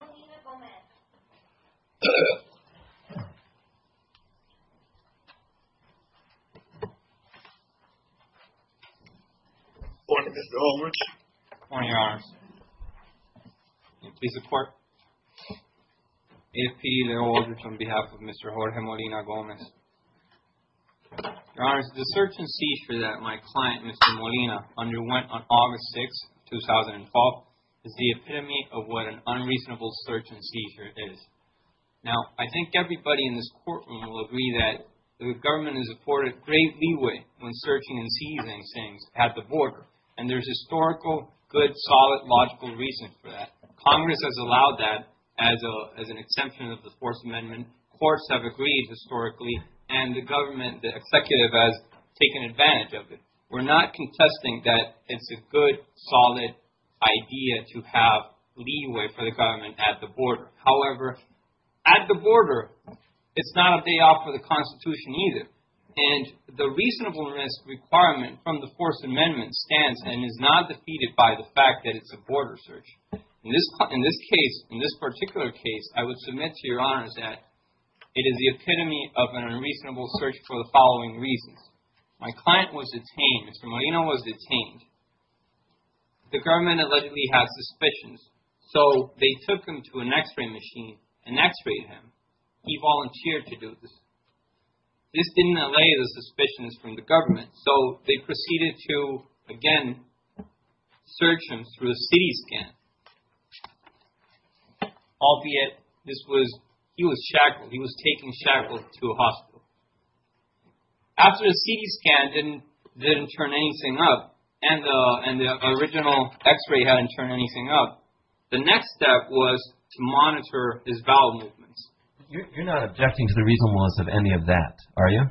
Good morning, Mr. Aldrich. Good morning, Your Honors. May it please the Court, A. F. P. L. Aldrich on behalf of Mr. Jorge Molina-Gomez. Your Honors, the search and siege that my client, Mr. Molina, underwent on August 6, 2012, is the epitome of what an unreasonable search and seizure is. Now, I think everybody in this courtroom will agree that the government has afforded great leeway when searching and seizing things at the border, and there's historical, good, solid, logical reasons for that. Congress has allowed that as an exception of the Fourth Amendment. Courts have agreed historically, and the government, the executive has taken advantage of it. We're not contesting that it's a good, solid idea to have leeway for the government at the border. However, at the border, it's not a day off for the Constitution either, and the reasonableness requirement from the Fourth Amendment stands and is not defeated by the fact that it's a border search. In this case, in this particular case, I would submit to Your Honors that it is the epitome of an unreasonable search for the following reasons. My client was detained, Mr. Molina was detained. The government allegedly had suspicions, so they took him to an x-ray machine and x-rayed him. He volunteered to do this. This didn't allay the suspicions from the government, so they proceeded to, again, search him through a CT scan, albeit this was, he was shackled, he was taken shackled to a hospital. After the CT scan didn't turn anything up, and the original x-ray hadn't turned anything up, the next step was to monitor his bowel movements. You're not objecting to the reasonableness of any of that, are you?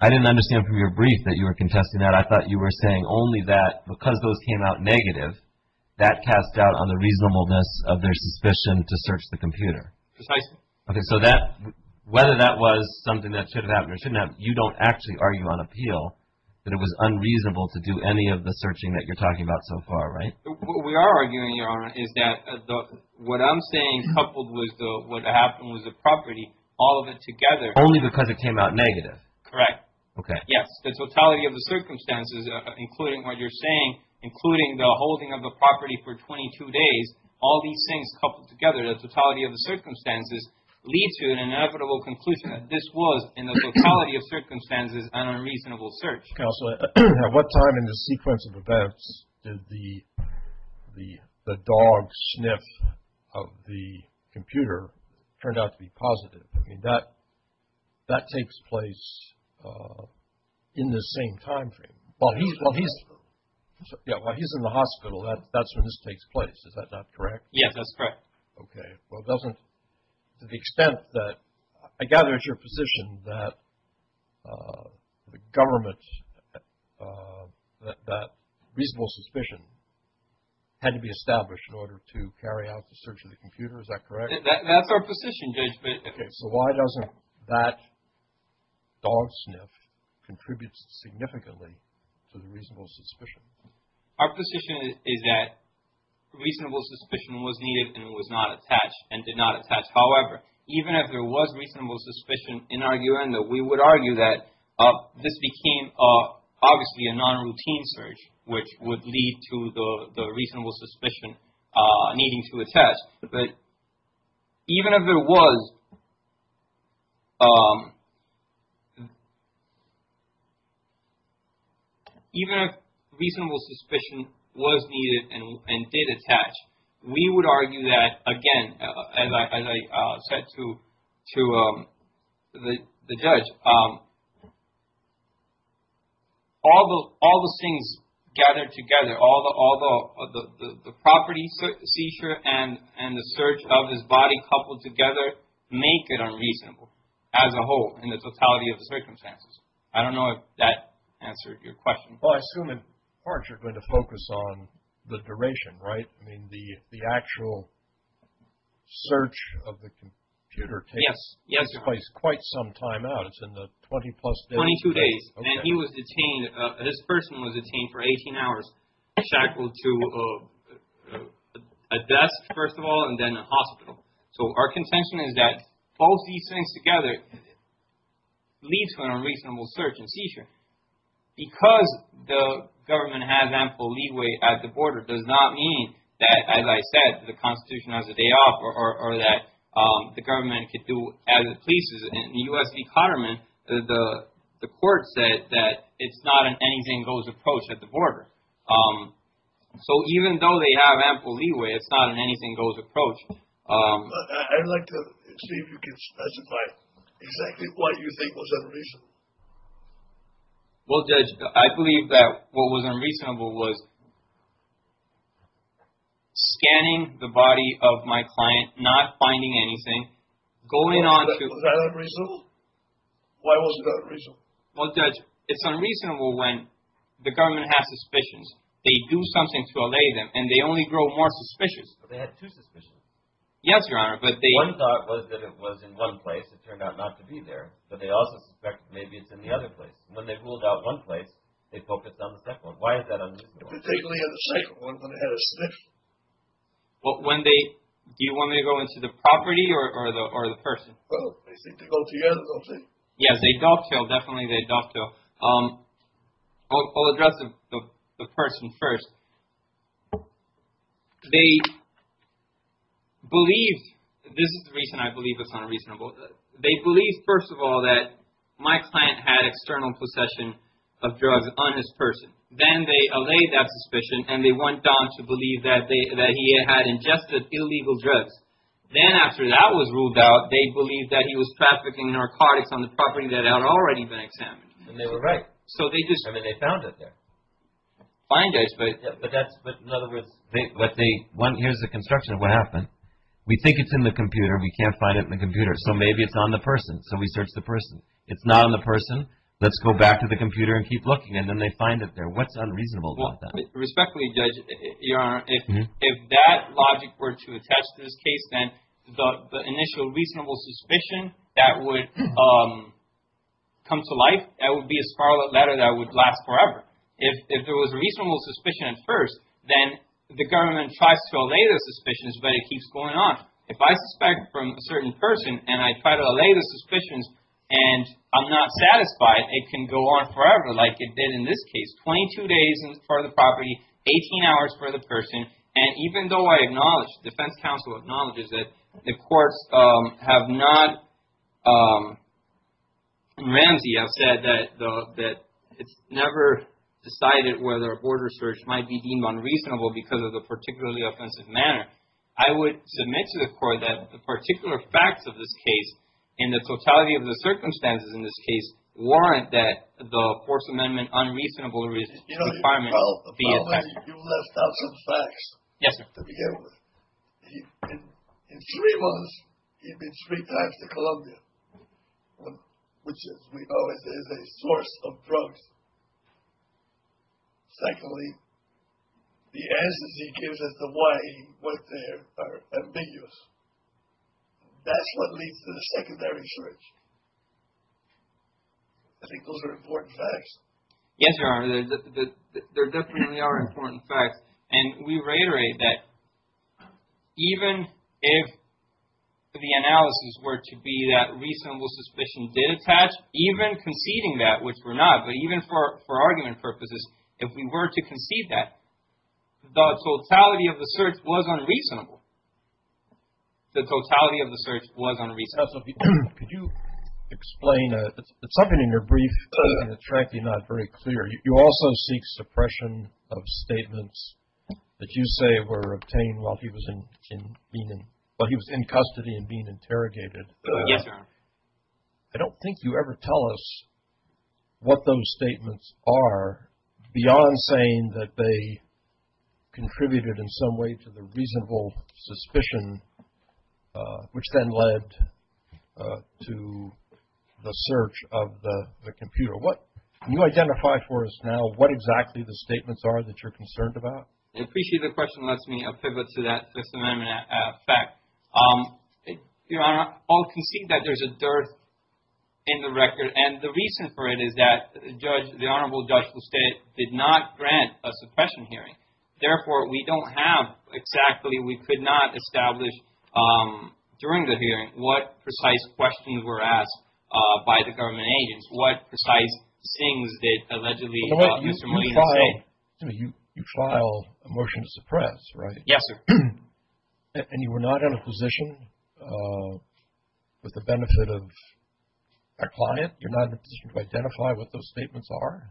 I didn't understand from your brief that you were contesting that. I thought you were saying only that because those came out negative, that cast doubt on the reasonableness of their suspicion to search the computer. Precisely. Okay, so that, whether that was something that should have happened or shouldn't have, you don't actually argue on appeal that it was unreasonable to do any of the searching that you're talking about so far, right? We are arguing, Your Honor, is that what I'm saying coupled with what happened with the property, all of it together- Only because it came out negative. Correct. Okay. Yes, the totality of the circumstances, including what you're saying, including the holding of the property for 22 days, all these things coupled together, the totality of the circumstances, lead to an inevitable conclusion that this was, in the totality of circumstances, an unreasonable search. Counselor, at what time in the sequence of events did the dog sniff of the computer turn out to be positive? I mean, that takes place in the same time frame. Well, he's in the hospital. That's when this takes place. Is that not correct? Yes, that's correct. Okay. Well, it doesn't, to the extent that, I gather it's your position that the government, that reasonable suspicion had to be established in order to carry out the search of the computer. That's our position, Judge. Okay, so why doesn't that dog sniff contribute significantly to the reasonable suspicion? Our position is that reasonable suspicion was needed and was not attached and did not attach. However, even if there was reasonable suspicion, in our view, we would argue that this became, obviously, a non-routine search, which would lead to the reasonable suspicion needing to attach. But even if there was, even if reasonable suspicion was needed and did attach, we would argue that, again, as I said to the judge, all the things gathered together, all the property seizure and the search of his body coupled together make it unreasonable as a whole, in the totality of the circumstances. I don't know if that answered your question. Well, I assume in part you're going to focus on the duration, right? I mean, the actual search of the computer takes place quite some time out. It's in the 20 plus days. Twenty-two days. And he was detained, this person was detained for 18 hours, shackled to a desk, first of all, and then a hospital. So our contention is that all these things together lead to an unreasonable search and seizure. Because the government has ample leeway at the border does not mean that, as I said, the Constitution has a day off or that the government can do as it pleases. In the U.S. Department, the court said that it's not an anything-goes approach at the border. So even though they have ample leeway, it's not an anything-goes approach. I'd like to see if you can specify exactly what you think was unreasonable. Well, Judge, I believe that what was unreasonable was scanning the body of my client, not finding anything, going on to... Was that unreasonable? Why wasn't that unreasonable? Well, Judge, it's unreasonable when the government has suspicions. They do something to allay them, and they only grow more suspicious. But they had two suspicions. Yes, Your Honor, but they... One thought was that it was in one place. It turned out not to be there. But they also suspect maybe it's in the other place. When they ruled out one place, they focused on the second one. Why is that unreasonable? Particularly in the second one, when it had a sniffle. When they... Do you want me to go into the property or the person? Well, they seem to go together, don't they? Yes, they dovetail. Definitely they dovetail. I'll address the person first. They believed... This is the reason I believe it's unreasonable. They believed, first of all, that my client had external possession of drugs on his person. Then they allayed that suspicion, and they went on to believe that he had ingested illegal drugs. Then, after that was ruled out, they believed that he was trafficking narcotics on the property that had already been examined. And they were right. So they just... I mean, they found it there. Fine, Judge, but that's... But in other words... But they... One, here's the construction of what happened. We think it's in the computer. We can't find it in the computer. So maybe it's on the person. So we search the person. It's not on the person. Let's go back to the computer and keep looking. And then they find it there. What's unreasonable about that? Respectfully, Judge, Your Honor, if that logic were to attach to this case, then the initial reasonable suspicion that would come to life, that would be a sparlet letter that would last forever. If there was a reasonable suspicion at first, then the government tries to allay those suspicions, but it keeps going on. If I suspect from a certain person, and I try to allay the suspicions, and I'm not satisfied, it can go on forever, like it did in this case. It's 22 days for the property, 18 hours for the person, and even though I acknowledge, defense counsel acknowledges that the courts have not... Ramsey has said that it's never decided whether a board research might be deemed unreasonable because of the particularly offensive manner. I would submit to the court that the particular facts of this case and the You left out some facts to begin with. In three months, he'd been three times to Columbia, which, as we always say, is a source of drugs. Secondly, the answers he gives as to why he went there are ambiguous. That's what leads to the secondary search. I think those are important facts. Yes, Your Honor. They definitely are important facts, and we reiterate that even if the analysis were to be that reasonable suspicion did attach, even conceding that, which we're not, but even for argument purposes, if we were to concede that, the totality of the search was unreasonable. The totality of the search was unreasonable. Could you explain something in your brief that's frankly not very clear? You also seek suppression of statements that you say were obtained while he was in custody and being interrogated. Yes, Your Honor. I don't think you ever tell us what those statements are beyond saying that they to the search of the computer. Can you identify for us now what exactly the statements are that you're concerned about? I appreciate the question lets me pivot to that Fifth Amendment fact. Your Honor, I'll concede that there's a dearth in the record, and the reason for it is that the Honorable Judge Lestade did not grant a suppression hearing. Therefore, we don't have exactly We could not establish during the hearing what precise questions were asked by the government agents, what precise things did allegedly Mr. Molina say. You filed a motion to suppress, right? Yes, sir. And you were not in a position with the benefit of our client? You're not in a position to identify what those statements are?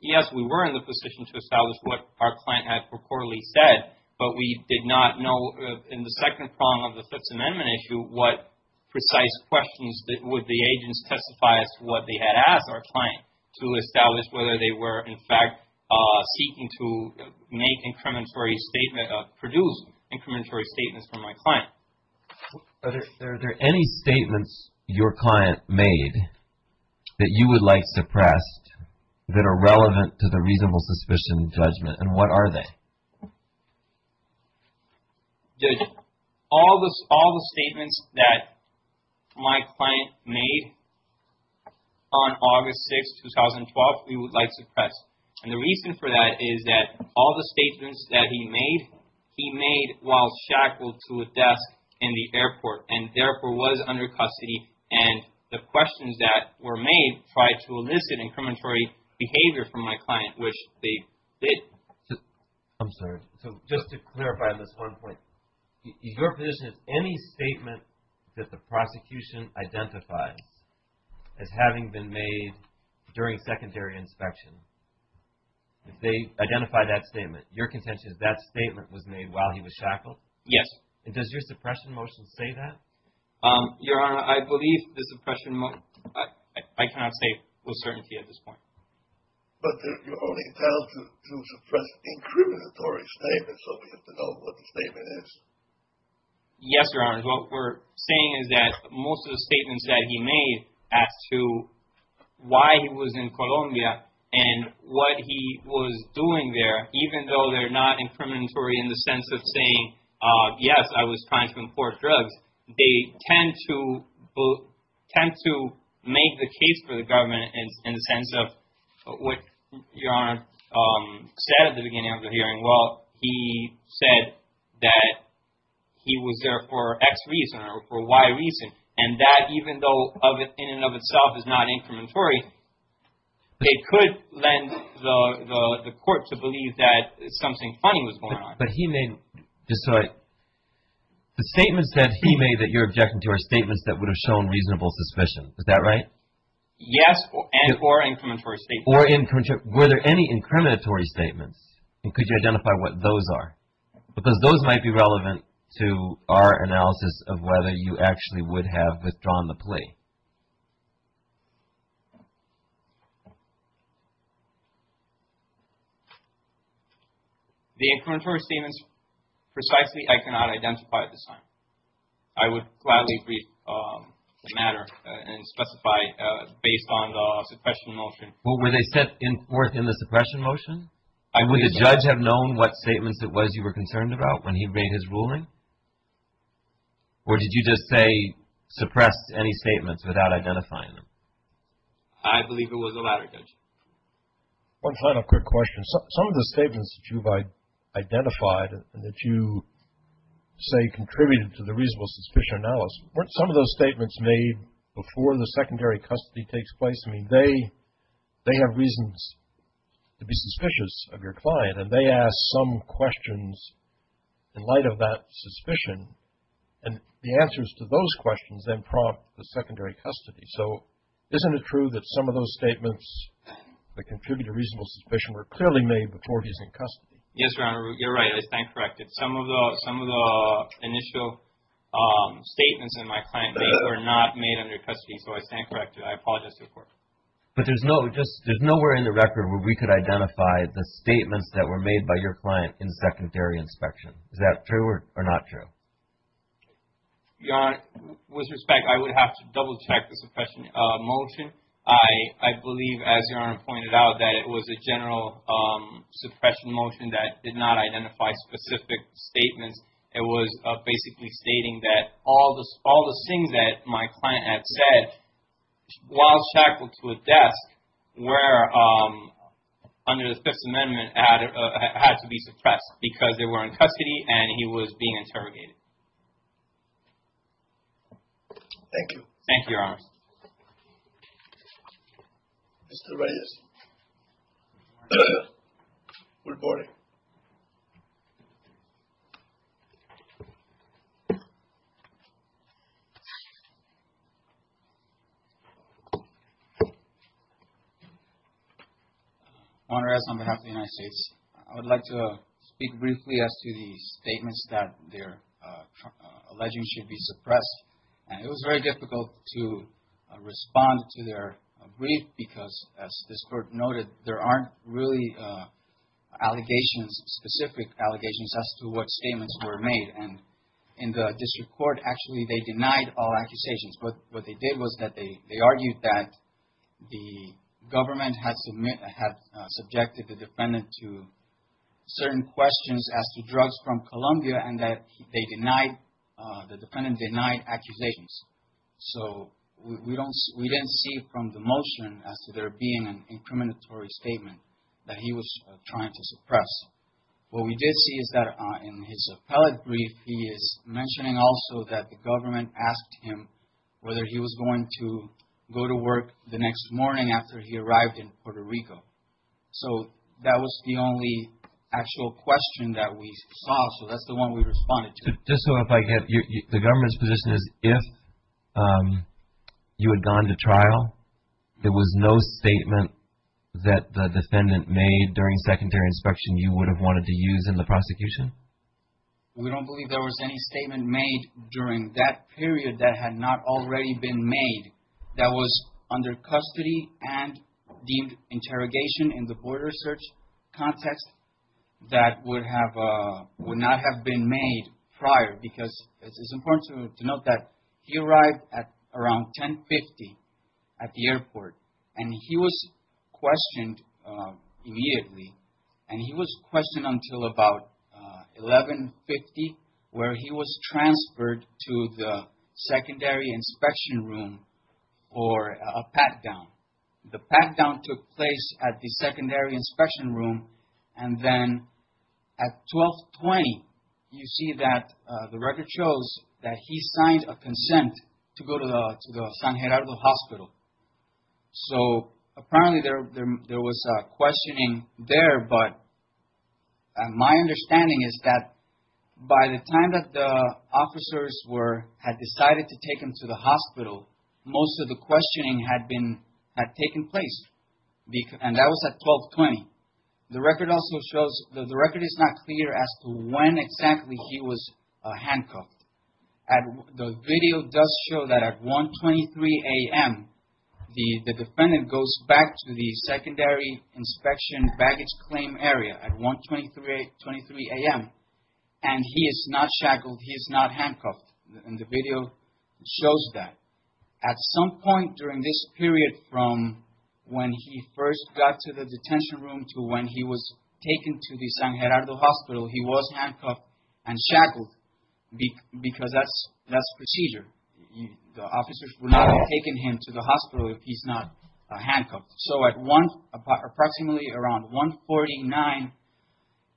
Yes, we were in the position to establish what our client had purportedly said, but we did not know in the second prong of the Fifth Amendment issue what precise questions would the agents testify as to what they had asked our client to establish whether they were, in fact, seeking to make incrementary statements, produce incrementary statements from my client. Are there any statements your client made that you would like suppressed that are relevant to the reasonable suspicion judgment, and what are they? All the statements that my client made on August 6, 2012, we would like suppressed. And the reason for that is that all the statements that he made, he made while shackled to a desk in the airport, and therefore was under custody. And the questions that were made tried to elicit incrementary behavior from my client, which they did. I'm sorry. So, just to clarify this one point, your position is any statement that the prosecution identifies as having been made during secondary inspection, if they identify that statement, your contention is that statement was made while he was shackled? Yes. And does your suppression motion say that? Your Honor, I believe the suppression motion, I cannot say with certainty at this point. But you're only entitled to suppress incriminatory statements, so we have to know what the statement is. Yes, Your Honor, what we're saying is that most of the statements that he made as to why he was in Colombia and what he was doing there, even though they're not incriminatory in the sense of saying, yes, I was trying to import drugs, they tend to make the case for the government in the sense of what Your Honor said at the beginning of the hearing. Well, he said that he was there for X reason or for Y reason, and that even though in and of itself is not incriminatory, they could lend the court to believe that something funny was going on. But he made, just so I, the statements that he made that you're objecting to are statements that would have shown reasonable suspicion. Is that right? Yes, and or incriminatory statements. Or incriminatory, were there any incriminatory statements? And could you identify what those are? Because those might be relevant to our analysis of whether you actually would have withdrawn the plea. The incriminatory statements, precisely, I cannot identify at this time. I would gladly read the matter and specify based on the suppression motion. Well, were they set forth in the suppression motion? Would the judge have known what statements it was you were concerned about when he made his ruling? Or did you just say suppress any statements without identifying them? I believe it was the latter, Judge. One final quick question. Some of the statements that you've identified and that you say contributed to the reasonable suspicion analysis, weren't some of those statements made before the secondary custody takes place? I mean, they have reasons to be suspicious of your client. And they ask some questions in light of that suspicion. And the answers to those questions then prompt the secondary custody. So isn't it true that some of those statements that contribute to reasonable suspicion were clearly made before he's in custody? Yes, Your Honor. You're right. I stand corrected. Some of the initial statements in my client's case were not made under custody. So I stand corrected. I apologize to the Court. But there's nowhere in the record where we could identify the statements that were made by your client in secondary inspection. Is that true or not true? Your Honor, with respect, I would have to double-check the suppression motion. I believe, as Your Honor pointed out, that it was a general suppression motion that did not identify specific statements. It was basically stating that all the things that my client had said, while checked with a desk, were, under the Fifth Amendment, had to be suppressed because they were in custody and he was being interrogated. Thank you. Thank you, Your Honor. Mr. Reyes. Your Honor, on behalf of the United States, I would like to speak briefly as to the statements that they're alleging should be suppressed. It was very difficult to respond to their brief because, as this Court noted, there aren't really allegations, specific allegations, as to what statements were made. And in the district court, actually, they denied all accusations. What they did was that they argued that the government had subjected the defendant to certain questions as to drugs from Colombia and that the defendant denied accusations. So, we didn't see from the motion as to there being an incriminatory statement that he was trying to suppress. What we did see is that in his appellate brief, he is mentioning also that the government asked him whether he was going to go to work the next morning after he arrived in Puerto Rico. So, that was the only actual question that we saw. So, that's the one we responded to. Just so I get, the government's position is if you had gone to trial, there was no statement that the defendant made during secondary inspection you would have wanted to use in the prosecution? We don't believe there was any statement made during that period that had not already been made that was under custody and deemed interrogation in the border search context that would not have been made prior. Because it's important to note that he arrived at around 10.50 at the airport and he was questioned immediately. And he was questioned until about 11.50 where he was transferred to the secondary inspection room for a pat-down. The pat-down took place at the secondary inspection room and then at 12.20 you see that the record shows that he signed a consent to go to the San Gerardo Hospital. So, apparently there was questioning there but my understanding is that by the time that the officers had decided to take him to the hospital most of the questioning had taken place. And that was at 12.20. The record is not clear as to when exactly he was handcuffed. The video does show that at 1.23 a.m. the defendant goes back to the secondary inspection baggage claim area at 1.23 a.m. and he is not shackled, he is not handcuffed. And the video shows that. At some point during this period from when he first got to the detention room to when he was taken to the San Gerardo Hospital he was handcuffed and shackled because that's procedure. The officers would not have taken him to the hospital if he's not handcuffed. So, at approximately around 1.49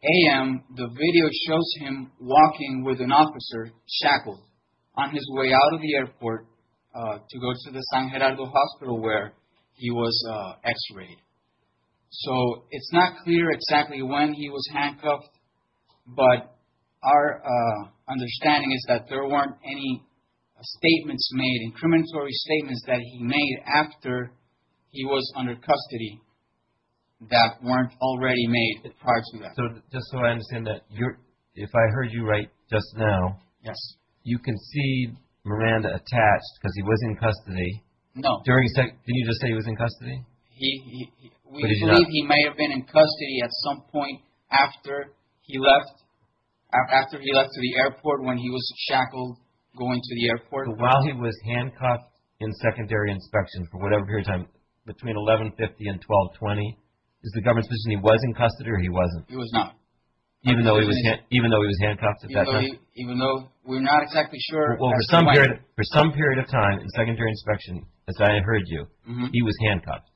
a.m. the video shows him walking with an officer shackled on his way out of the airport to go to the San Gerardo Hospital where he was x-rayed. So, it's not clear exactly when he was handcuffed but our understanding is that there weren't any statements made incriminatory statements that he made after he was under custody that weren't already made prior to that. So, just so I understand that, if I heard you right just now you concede Miranda attached because he was in custody. No. Did you just say he was in custody? We believe he may have been in custody at some point after he left after he left to the airport when he was shackled going to the airport. So, while he was handcuffed in secondary inspection for whatever period of time between 11.50 and 12.20 is the government's position he was in custody or he wasn't? He was not. Even though he was handcuffed at that time? Even though we're not exactly sure. Well, for some period of time in secondary inspection as I heard you he was handcuffed.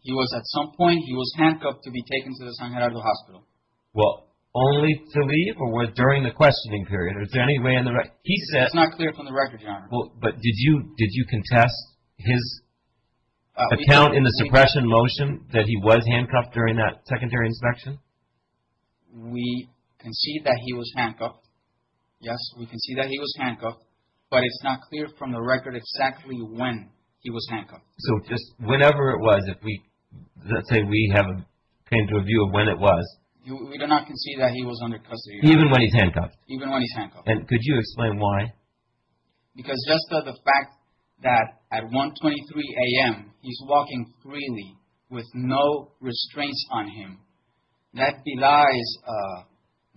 He was at some point. He was handcuffed to be taken to the San Gerardo Hospital. Well, only to leave or during the questioning period? Is there any way in the record? It's not clear from the record, Your Honor. But did you contest his account in the suppression motion that he was handcuffed during that secondary inspection? We concede that he was handcuffed. Yes, we concede that he was handcuffed but it's not clear from the record exactly when he was handcuffed. So, just whenever it was, let's say we came to a view of when it was. We do not concede that he was under custody. Even when he's handcuffed? Even when he's handcuffed. And could you explain why? Because just the fact that at 1.23 a.m. he's walking freely with no restraints on him, that belies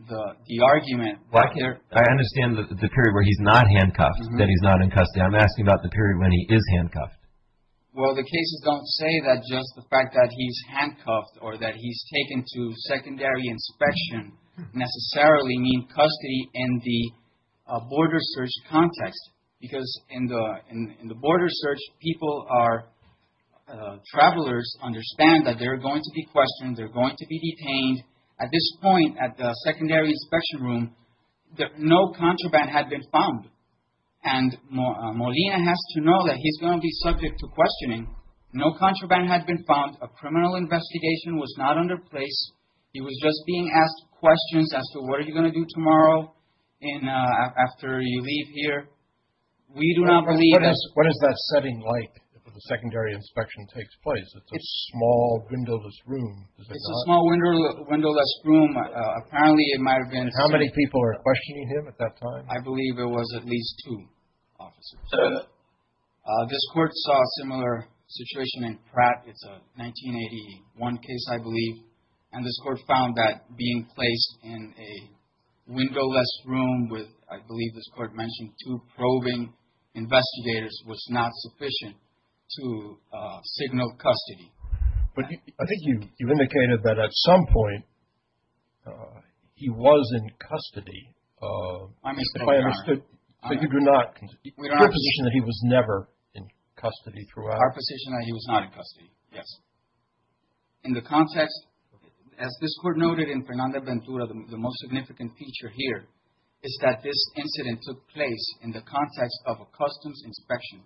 the argument. I understand the period where he's not handcuffed, that he's not in custody. I'm asking about the period when he is handcuffed. Well, the cases don't say that just the fact that he's handcuffed or that he's taken to secondary inspection necessarily means custody in the border search context because in the border search, people are, travelers understand that they're going to be questioned, they're going to be detained. At this point, at the secondary inspection room, no contraband had been found. And Molina has to know that he's going to be subject to questioning. No contraband had been found. A criminal investigation was not under place. He was just being asked questions as to what are you going to do tomorrow after you leave here. We do not believe that's What is that setting like if a secondary inspection takes place? It's a small windowless room. It's a small windowless room. Apparently, it might have been. How many people were questioning him at that time? I believe it was at least two officers. This court saw a similar situation in Pratt. It's a 1981 case, I believe. And this court found that being placed in a windowless room with, I believe this court mentioned, two probing investigators was not sufficient to signal custody. But I think you indicated that at some point he was in custody. If I understood correctly, you do not, your position is that he was never in custody throughout? Our position is that he was not in custody, yes. In the context, as this court noted in Fernanda Ventura, the most significant feature here is that this incident took place in the context of a customs inspection.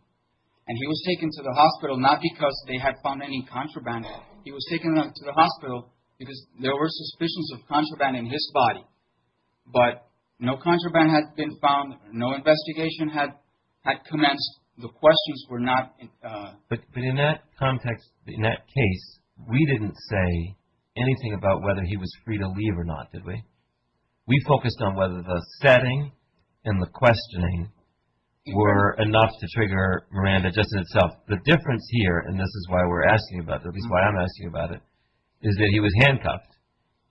And he was taken to the hospital not because they had found any contraband. He was taken to the hospital because there were suspicions of contraband in his body. But no contraband had been found. No investigation had commenced. The questions were not. But in that context, in that case, we didn't say anything about whether he was free to leave or not, did we? We focused on whether the setting and the questioning were enough to trigger Miranda just in itself. The difference here, and this is why we're asking about it, at least why I'm asking about it, is that he was handcuffed.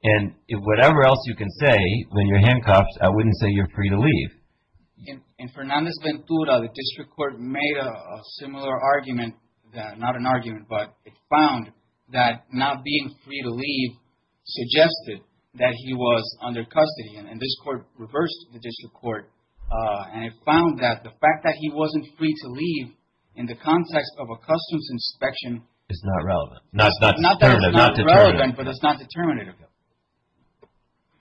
And whatever else you can say when you're handcuffed, I wouldn't say you're free to leave. In Fernanda Ventura, the district court made a similar argument, not an argument, but it found that not being free to leave suggested that he was under custody. And this court reversed the district court. And it found that the fact that he wasn't free to leave in the context of a customs inspection is not relevant. Not that it's not relevant, but it's not determinative.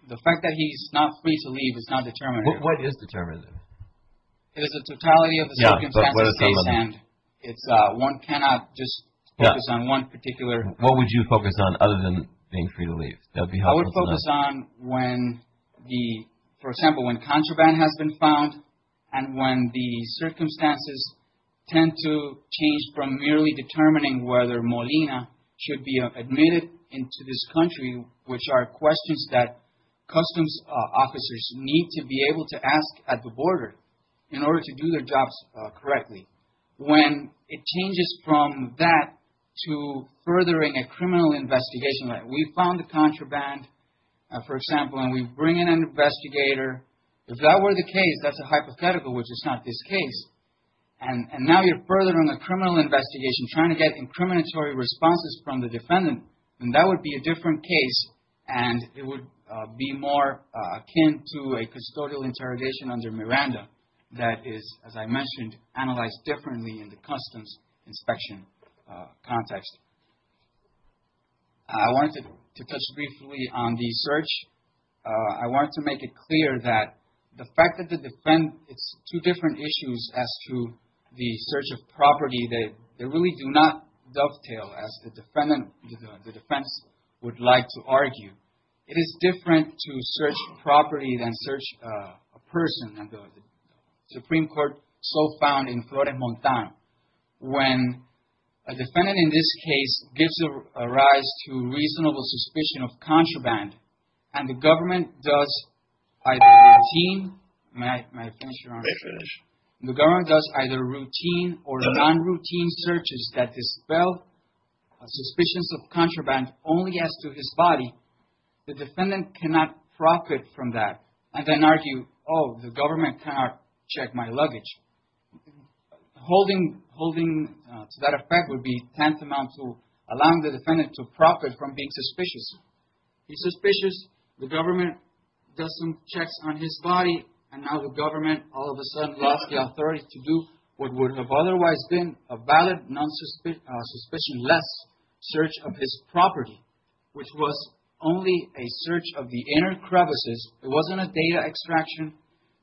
The fact that he's not free to leave is not determinative. What is determinative? It is the totality of the circumstances at hand. One cannot just focus on one particular. What would you focus on other than being free to leave? I would focus on when, for example, when contraband has been found and when the circumstances tend to change from merely determining whether Molina should be admitted into this country, which are questions that customs officers need to be able to ask at the border in order to do their jobs correctly. When it changes from that to furthering a criminal investigation, like we found the contraband, for example, and we bring in an investigator. If that were the case, that's a hypothetical, which is not this case. And now you're furthering a criminal investigation, trying to get incriminatory responses from the defendant. And that would be a different case, and it would be more akin to a custodial interrogation under Miranda that is, as I mentioned, analyzed differently in the customs inspection context. I wanted to touch briefly on the search. I wanted to make it clear that the fact that the defendant has two different issues as to the search of property, they really do not dovetail, as the defense would like to argue. It is different to search property than search a person. The Supreme Court so found in Florida Montano when a defendant in this case gives a rise to reasonable suspicion of contraband and the government does either routine or non-routine searches that dispel suspicions of contraband only as to his body, the defendant cannot profit from that and then argue, oh, the government cannot check my luggage. Holding to that effect would be tantamount to allowing the defendant to profit from being suspicious. He's suspicious, the government does some checks on his body, and now the government all of a sudden allows the authorities to do what would have otherwise been a valid non-suspicionless search of his property, which was only a search of the inner crevices. It wasn't a data extraction.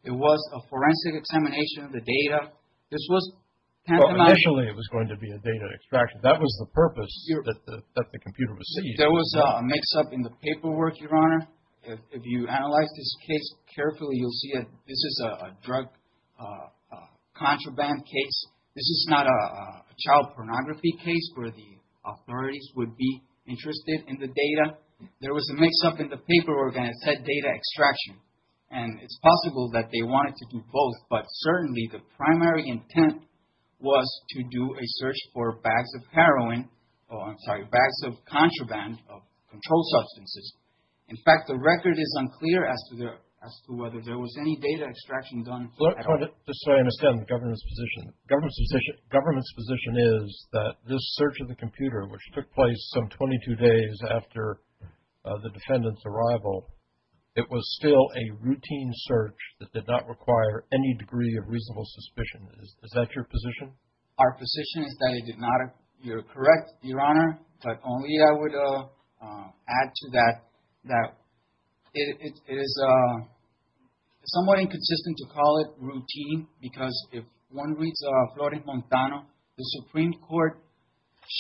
It was a forensic examination of the data. This was tantamount to- Initially it was going to be a data extraction. That was the purpose that the computer was seeing. There was a mix-up in the paperwork, Your Honor. If you analyze this case carefully, you'll see that this is a drug contraband case. This is not a child pornography case where the authorities would be interested in the data. There was a mix-up in the paperwork and it said data extraction, and it's possible that they wanted to do both, but certainly the primary intent was to do a search for bags of heroin- I'm sorry, bags of contraband, of controlled substances. In fact, the record is unclear as to whether there was any data extraction done. Just so I understand the government's position. The government's position is that this search of the computer, which took place some 22 days after the defendant's arrival, it was still a routine search that did not require any degree of reasonable suspicion. Is that your position? Our position is that it did not. You're correct, Your Honor, but only I would add to that that it is somewhat inconsistent to call it routine because if one reads Florent Montano, the Supreme Court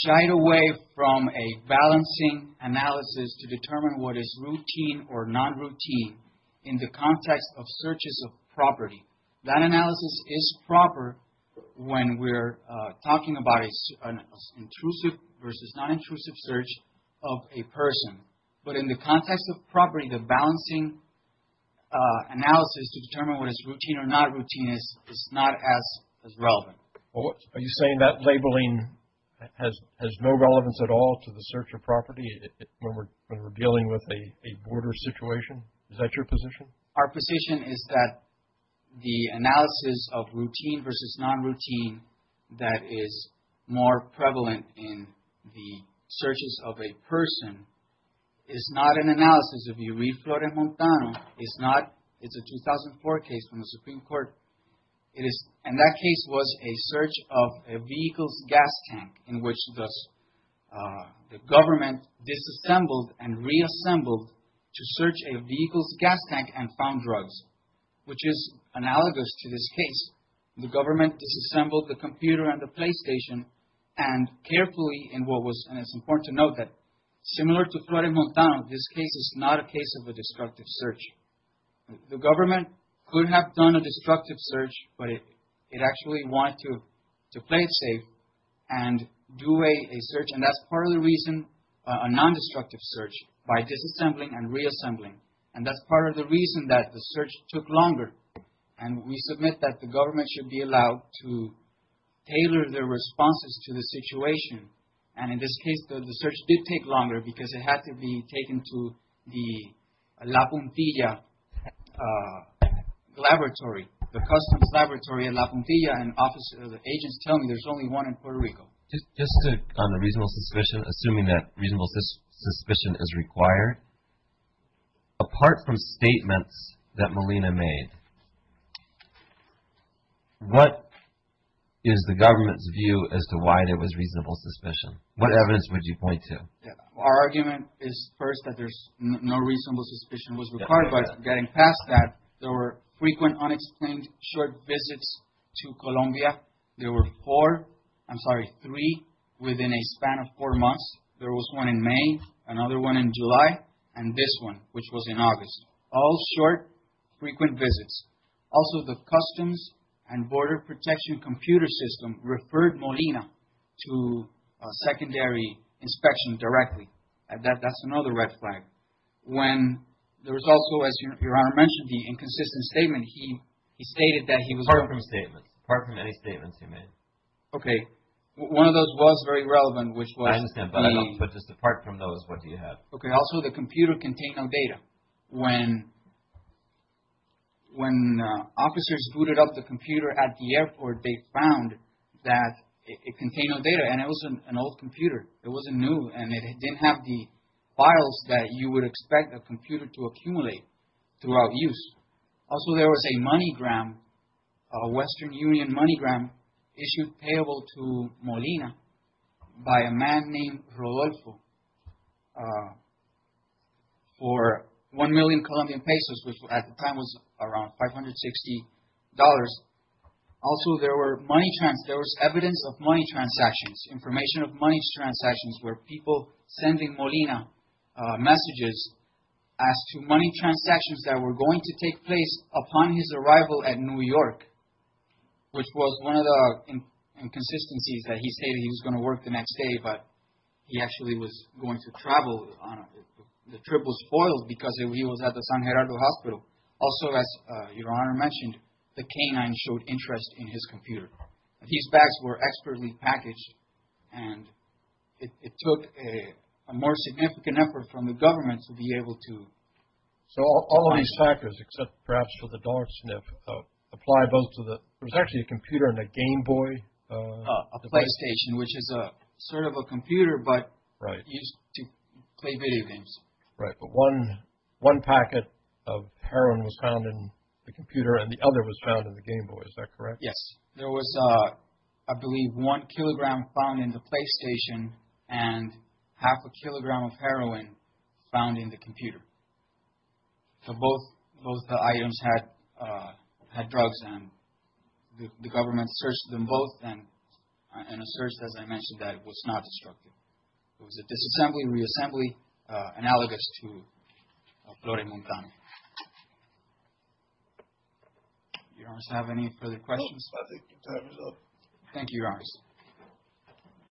shied away from a balancing analysis to determine what is routine or non-routine in the context of searches of property. That analysis is proper when we're talking about an intrusive versus non-intrusive search of a person, but in the context of property, the balancing analysis to determine what is routine or non-routine is not as relevant. Are you saying that labeling has no relevance at all to the search of property when we're dealing with a border situation? Is that your position? Our position is that the analysis of routine versus non-routine that is more prevalent in the searches of a person is not an analysis. If you read Florent Montano, it's a 2004 case from the Supreme Court, and that case was a search of a vehicle's gas tank in which the government disassembled and reassembled to search a vehicle's gas tank and found drugs, which is analogous to this case. The government disassembled the computer and the PlayStation and carefully in what was, and it's important to note that similar to Florent Montano, this case is not a case of a destructive search. The government could have done a destructive search, but it actually wanted to play it safe and do a search, and that's part of the reason a non-destructive search by disassembling and reassembling, and that's part of the reason that the search took longer. And we submit that the government should be allowed to tailor their responses to the situation. And in this case, the search did take longer because it had to be taken to the La Puntilla laboratory, the customs laboratory in La Puntilla, and the agents tell me there's only one in Puerto Rico. Just on the reasonable suspicion, assuming that reasonable suspicion is required, apart from statements that Melina made, what is the government's view as to why there was reasonable suspicion? What evidence would you point to? Our argument is first that there's no reasonable suspicion was required, but getting past that, there were frequent unexplained short visits to Colombia. There were four, I'm sorry, three within a span of four months. There was one in May, another one in July, and this one, which was in August. All short, frequent visits. Also, the customs and border protection computer system referred Melina to a secondary inspection directly. That's another red flag. When there was also, as Your Honor mentioned, the inconsistent statement, he stated that he was Apart from statements, apart from any statements he made. Okay. One of those was very relevant, which was the I understand, but just apart from those, what do you have? Okay. Also, the computer contained no data. When officers booted up the computer at the airport, they found that it contained no data, and it was an old computer. It wasn't new, and it didn't have the files that you would expect a computer to accumulate throughout use. Also, there was a money gram, a Western Union money gram issued payable to Molina by a man named Rodolfo for one million Colombian pesos, which at the time was around $560. Also, there was evidence of money transactions, information of money transactions, where people sending Molina messages as to money transactions that were going to take place upon his arrival at New York, which was one of the inconsistencies that he stated he was going to work the next day, but he actually was going to travel. The trip was foiled because he was at the San Gerardo Hospital. Also, as Your Honor mentioned, the canine showed interest in his computer. These bags were expertly packaged, and it took a more significant effort from the government to be able to find it. So all of these factors, except perhaps for the dog sniff, apply both to the – there was actually a computer and a Game Boy device. A PlayStation, which is sort of a computer, but used to play video games. Right, but one packet of heroin was found in the computer, and the other was found in the Game Boy. Is that correct? There was, I believe, one kilogram found in the PlayStation and half a kilogram of heroin found in the computer. So both the items had drugs, and the government searched them both and asserts, as I mentioned, that it was not destructive. It was a disassembly, reassembly, analogous to a flore montana. Your Honors, do you have any further questions? No, I think the time is up. Thank you, Your Honors.